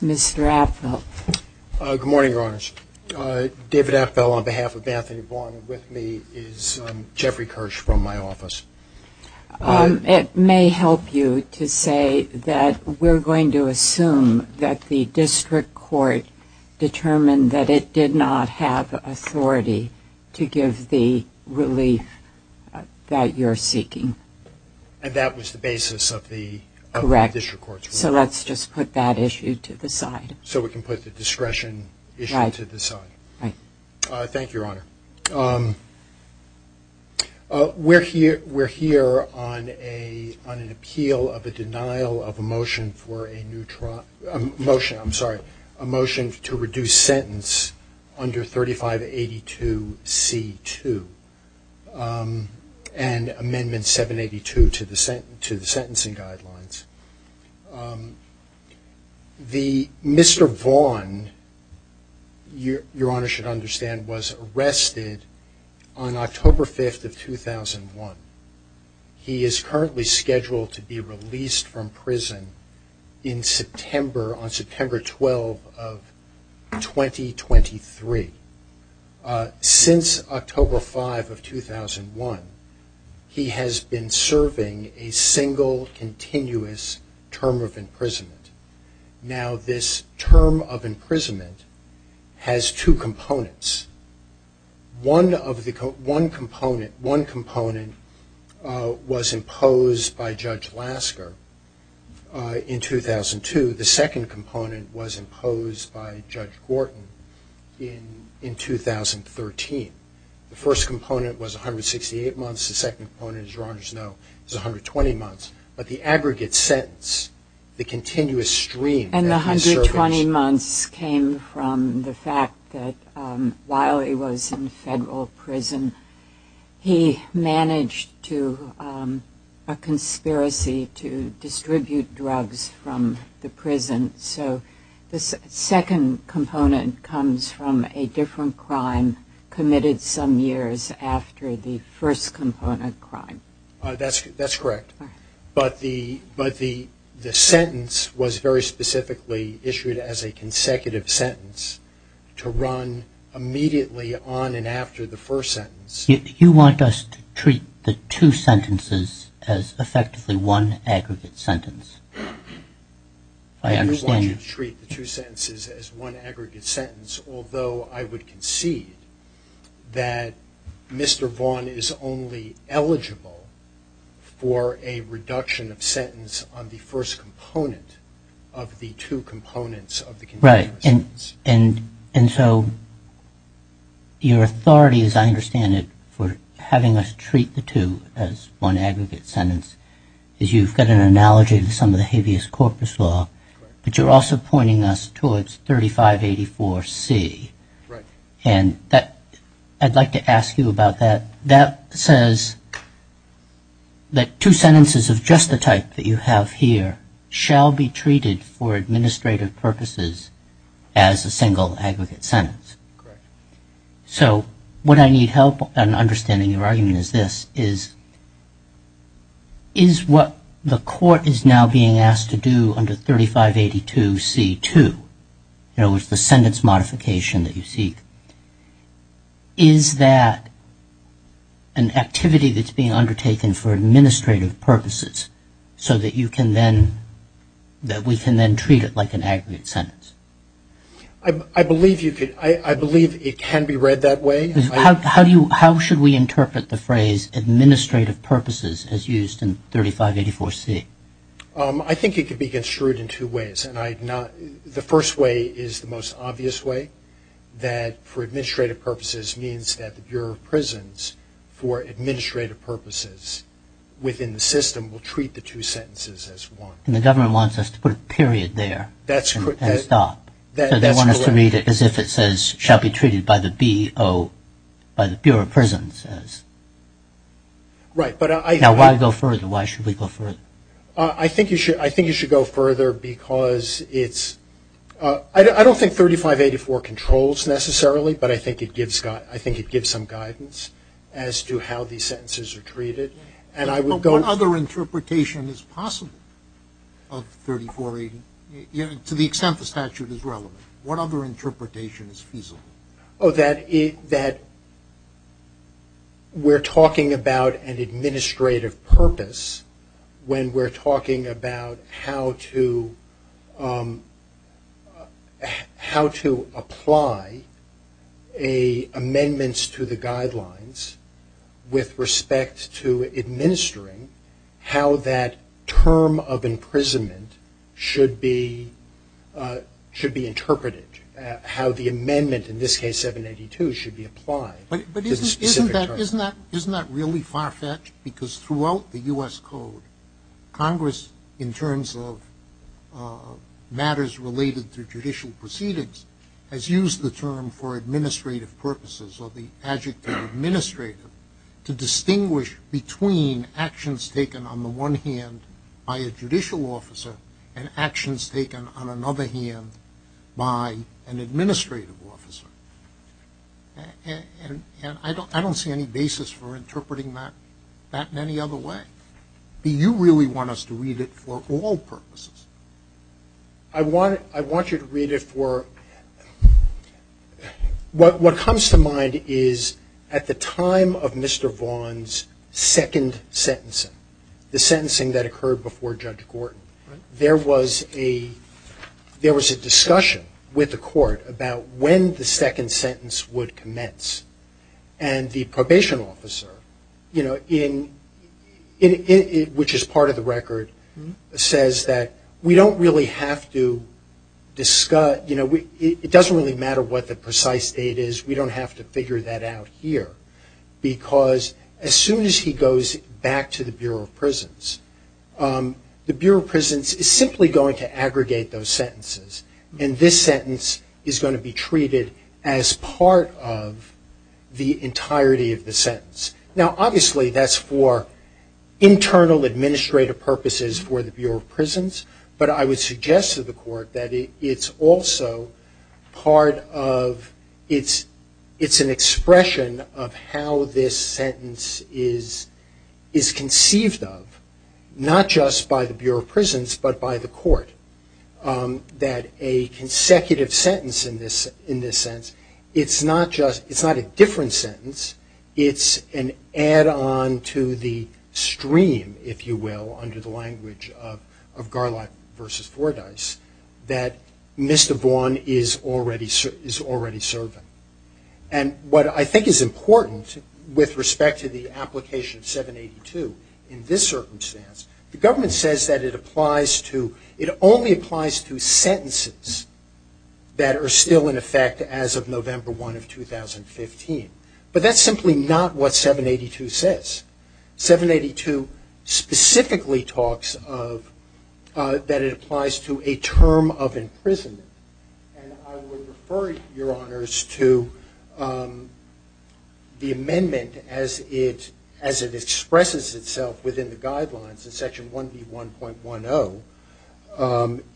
Mr. Apfel. Good morning, Your Honors. David Apfel on behalf of Anthony Vaughn with me is Jeffrey Kirsch from my office. It may help you to say that we're going to assume that the District Court determined that it did not have authority to give the relief that you're seeking. And that was the basis of the District Court's ruling. Correct. So let's just put that issue to the side. So we can put the discretion issue to the side. Right. Thank you, Your Honor. We're here on an appeal of a denial of a motion to reduce sentence under 3582C2 and amendment 782 to the sentencing guidelines. Mr. Vaughn, Your Honor, should understand, was arrested on October 5th of 2001. He is currently scheduled to be released from prison on September 12th of 2023. Since October 5th of 2001, he has been serving a sentence. One component was imposed by Judge Lasker in 2002. The second component was imposed by Judge Gorton in 2013. The first component was 168 months. The second component, as Your Honors know, is 120 months. But the aggregate sentence, the continuous stream And the 120 months came from the fact that while he was in federal prison, he managed to, a conspiracy to distribute drugs from the prison. So the second component comes from a different crime committed some years after the first component crime. That's correct. But the sentence was very specifically issued as a consecutive sentence to run immediately on and after the first sentence. You want us to treat the two sentences as effectively one aggregate sentence? I understand you want to treat the two sentences as one aggregate sentence, although I would concede that Mr. Vaughn is only eligible for a reduction of sentence on the first component of the two components of the continuous sentence. Right. And so your authority, as I understand it, for having us treat the two as one aggregate sentence is you've got an analogy to some of law, but you're also pointing us towards 3584C. Right. And that I'd like to ask you about that. That says that two sentences of just the type that you have here shall be treated for administrative purposes as a single aggregate sentence. Correct. So what I need help on understanding your argument is this, is what the court is now being asked to do under 3582C.2, you know, with the sentence modification that you seek, is that an activity that's being undertaken for administrative purposes so that you can then, that we can then treat it like an aggregate sentence? I believe you could, I believe it can be read that way. How should we interpret the phrase administrative purposes as used in 3584C? I think it could be construed in two ways, and I'd not, the first way is the most obvious way, that for administrative purposes means that the Bureau of Prisons, for administrative purposes within the system, will treat the two sentences as one. And the government wants us to put a period there and stop. They want us to read it as if it says shall be treated by the B.O., by the Bureau of Prisons. Right, but I... Now why go further? Why should we go further? I think you should, I think you should go further because it's, I don't think 3584 controls necessarily, but I think it gives, I think it gives some guidance as to how these sentences are treated. And I would go... Oh, that, that we're talking about an administrative purpose when we're talking about how to, how to apply a amendments to the guidelines with respect to administering, how that term of imprisonment should be, should be interpreted, how the amendment, in this case 782, should be applied. But isn't that, isn't that really far-fetched? Because throughout the U.S. Code, Congress, in terms of matters related to judicial proceedings, has used the term for administrative purposes, or the adjective administrative, to distinguish between actions taken on the one hand by a judicial officer and actions taken on another hand by an administrative officer. And, and I don't, I don't see any basis for interpreting that, that in any other way. Do you really want us to read it for all purposes? I want, I want you to read it for... What, what comes to mind is at the time of Mr. Vaughan's second sentencing, the sentencing that occurred before Judge Gordon, there was a, there was a discussion with the court about when the second sentence would commence. And the probation officer, you know, in, in, which is part of the record, says that we don't really have to discuss, you know, we, it doesn't really matter what the precise date is. We don't have to figure that out here. Because as soon as he goes back to the Bureau of Prisons, the Bureau of Prisons is simply going to aggregate those sentences. And this sentence is going to be treated as part of the entirety of the sentence. Now, obviously, that's for internal administrative purposes for the Bureau of Prisons. But I would suggest to the court that it, it's also part of, it's, it's an expression of how this sentence is, is conceived of, not just by the Bureau of Prisons, but by the court. That a consecutive sentence in this, in this sense, it's not just, it's not a different sentence. It's an add-on to the stream, if you will, under the language of, of Garlot versus Fordyce, that Mr. Vaughan is already, is already serving. And what I think is important with respect to the application of 782 in this circumstance, the government says that it applies to, it only applies to sentences that are still in effect as of November 1 of 2015. But that's simply not what 782 says. 782 specifically talks of, that it applies to a term of imprisonment. And I would refer Your Honors to the amendment as it, as it expresses itself within the guidelines in section 1B1.10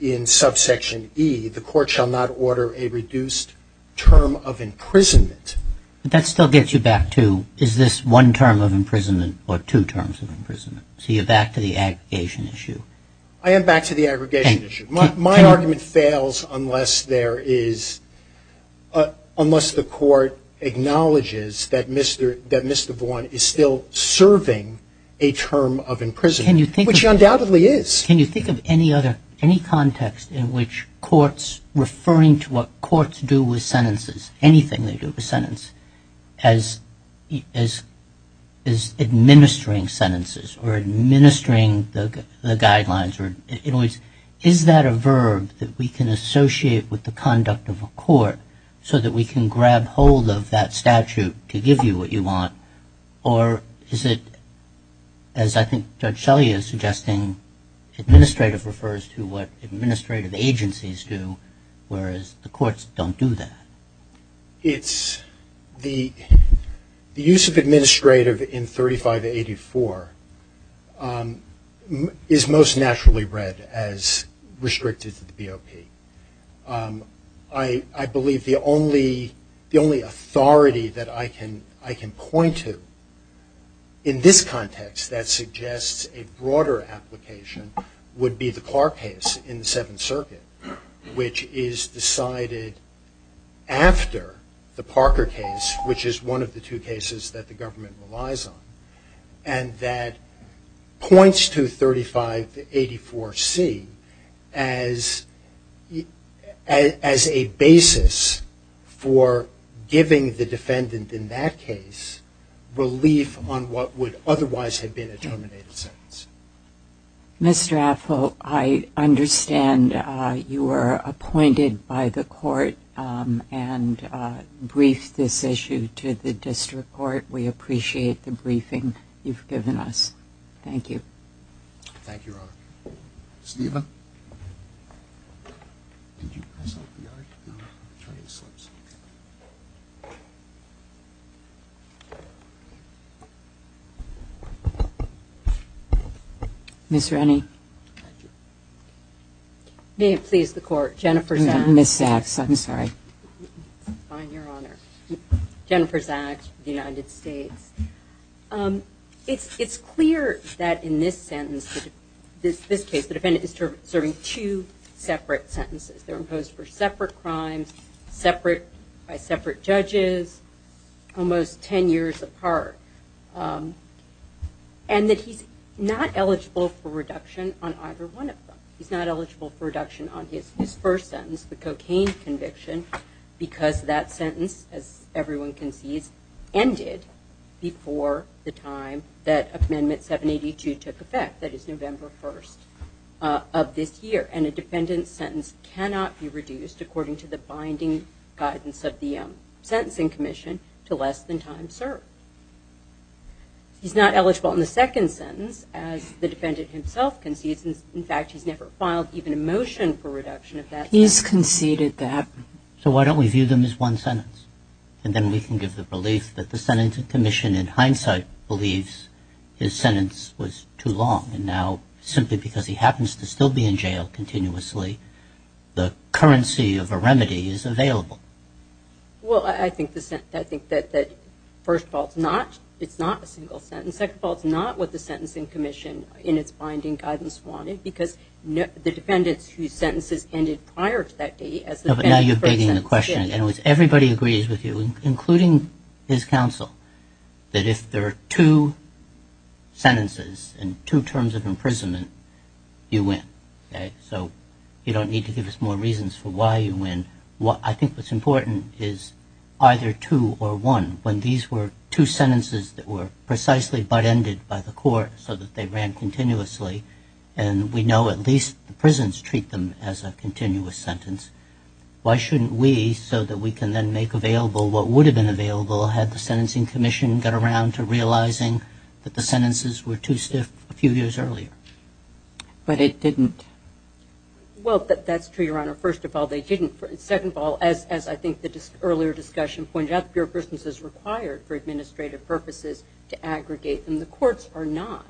in subsection E, the court shall not order a reduced term of imprisonment. That still gets you back to, is this one term of imprisonment or two terms of imprisonment? So you're back to the aggregation issue? I am back to the aggregation issue. My argument fails unless there is, unless the court acknowledges that Mr., that Mr. Vaughan is still serving a term of imprisonment, which he undoubtedly is. Can you think of any other, any context in which courts, referring to what courts do with sentences, anything they do with sentence, as, as, as administering sentences or administering the guidelines or, in other words, is that a verb that we can associate with the conduct of a court so that we can grab hold of that statute to give you what you want? Or is it, as I think Judge Shelley is suggesting, administrative refers to what administrative agencies do whereas the courts don't do that? It's the, the use of administrative in 3584 is most naturally read as restricted to the BOP. I, I believe the only, the only authority that I can, I can point to in this context that suggests a broader application would be the Clark case in the Seventh Circuit, which is decided after the Parker case, which is one of the two cases that the government relies on, and that points to 3584C as, as a basis for giving the defendant in that case relief on what would otherwise have been a terminated sentence. Mr. Affle, I understand you were appointed by the court and briefed this issue to the district court. We appreciate the briefing you've given us. Thank you. Ms. Rennie. May it please the court, Jennifer Zaks, the United States. It's, it's clear that in this sentence, this case, the defendant is serving two separate sentences. They're imposed for separate crimes, separate, by separate judges, almost ten years apart. And that he's not eligible for reduction on either one of them. He's not eligible for reduction on his, his first sentence, the cocaine conviction, because that sentence, as everyone can see, ended before the time that Amendment 782 took effect, that is November 1st of this year. And a defendant's sentence cannot be reduced according to the binding guidance of the Sentencing Commission to less than time served. He's not eligible in the second sentence, as the defendant himself concedes. In fact, he's never filed even a motion for reduction of that sentence. He's conceded that. So why don't we view them as one sentence? And then we can give the belief that the Sentencing Commission, in hindsight, believes his sentence was too long. And now, simply because he happens to still be in jail continuously, the currency of a remedy is available. Well, I think the, I think that, that first of all, it's not, it's not a single sentence. Second of all, it's not what the Sentencing Commission, in its binding guidance, wanted. Because the defendants whose sentences ended prior to that date, as the defendant's first sentence did. No, but now you're begging the question. In other words, everybody agrees with you, including his counsel, that if there are two sentences and two terms of imprisonment, you win. Okay? So you don't need to give us more reasons for why you win. What, I think what's important is, are there two or one? When these were two sentences that were precisely butt-ended by the court, so that they ran continuously, and we know at least the prisons treat them as a continuous sentence, why shouldn't we, so that we can then make available what would have been available, had the Sentencing Commission got around to realizing that the sentences were too stiff a few years earlier? But it didn't. Well, that's true, Your Honor. First of all, they didn't. Second of all, as I think the earlier discussion pointed out, the Bureau of Prisons is required for administrative purposes to aggregate, and the courts are not.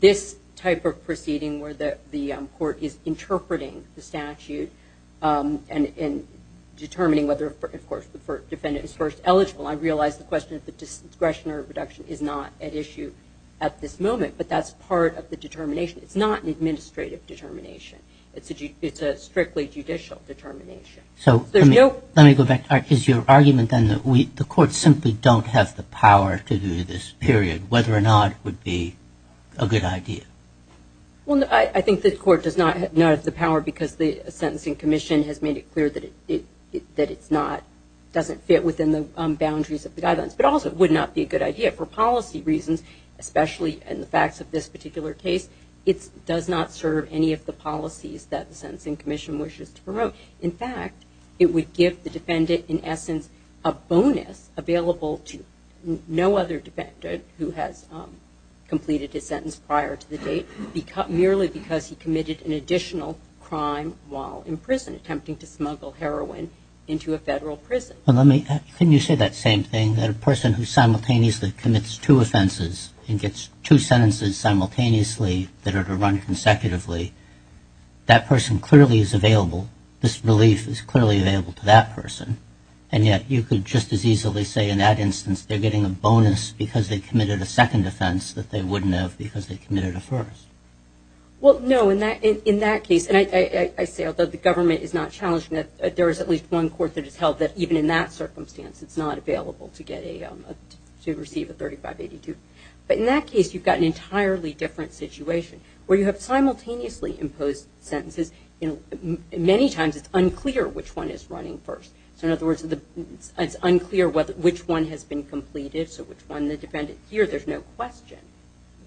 This type of proceeding, where the court is interpreting the statute, and determining whether, of course, the defendant is first eligible, I realize the question of the discretionary reduction is not at issue at this moment. But that's part of the determination. It's not an administrative determination. It's a strictly judicial determination. So let me go back. Is your argument, then, that the courts simply don't have the power to do this period, whether or not it would be a good idea? Well, I think the court does not have the power, because the Sentencing Commission has made it clear that it doesn't fit within the boundaries of the guidelines. But also, it does not serve any of the policies that the Sentencing Commission wishes to promote. In fact, it would give the defendant, in essence, a bonus available to no other defendant who has completed his sentence prior to the date, merely because he committed an additional crime while in prison, attempting to smuggle heroin into a federal prison. Well, let me ask, couldn't you say that same thing, that a person who simultaneously commits two offenses and gets two sentences simultaneously that are to run consecutively, that person clearly is available, this relief is clearly available to that person, and yet you could just as easily say in that instance, they're getting a bonus because they committed a second offense that they wouldn't have because they committed a first? Well, no. In that case, and I say, although the government is not challenging it, there is at least one court that has held that even in that circumstance, it's not available to receive a 3582. But in that case, you've got an entirely different situation where you have simultaneously imposed sentences. Many times, it's unclear which one is running first. So in other words, it's unclear which one has been completed, so which one the defendant here, there's no question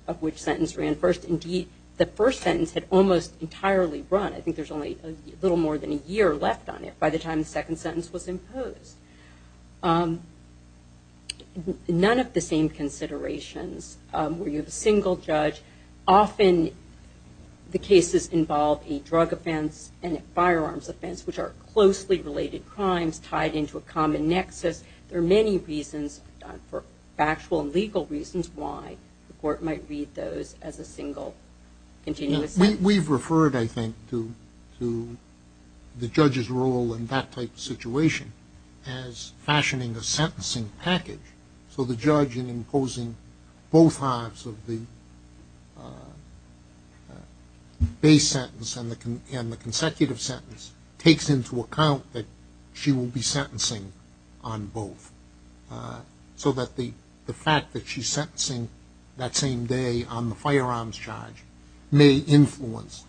of which sentence ran first. Indeed, the first sentence had almost entirely run. I think there's only a little more than a year left on it by the time the second sentence was imposed. None of the same considerations where you have a single judge. Often, the cases involve a drug offense and a firearms offense, which are closely related crimes tied into a common nexus. There are many reasons for factual and legal reasons why the court might read those as a single continuous sentence. We've referred, I think, to the judge's role in that type of situation as fashioning a sentencing package. So the judge in imposing both halves of the base sentence and the consecutive sentence takes into account that she will be sentencing on both. So that the fact that she's sentencing that same day on the firearms charge may influence,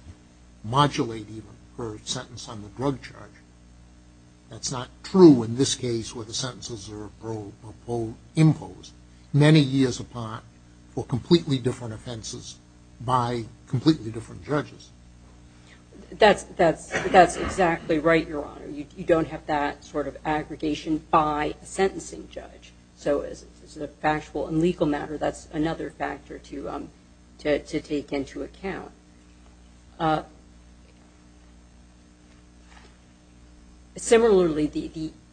modulate even, her sentence on the drug charge. That's not true in this case where the sentences are imposed many years apart for completely different offenses by completely different judges. That's exactly right, Your Honor. You don't have that sort of aggregation by a sentencing judge. So as a factual and legal matter, that's another factor to take into account. Similarly,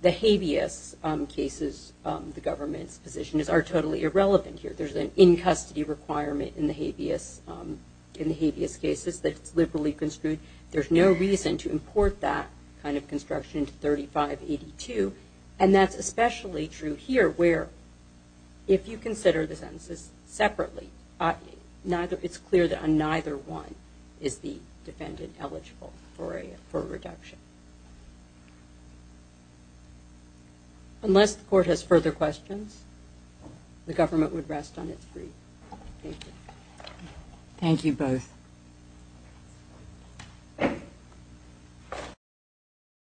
the habeas cases, the government's position, are totally irrelevant here. There's an in-custody requirement in the habeas cases that's liberally construed. There's no reason to import that kind of construction into 3582. And that's especially true here where if you consider the sentences separately, it's clear that on neither one is the defendant eligible for a reduction. Unless the court has further questions, the government would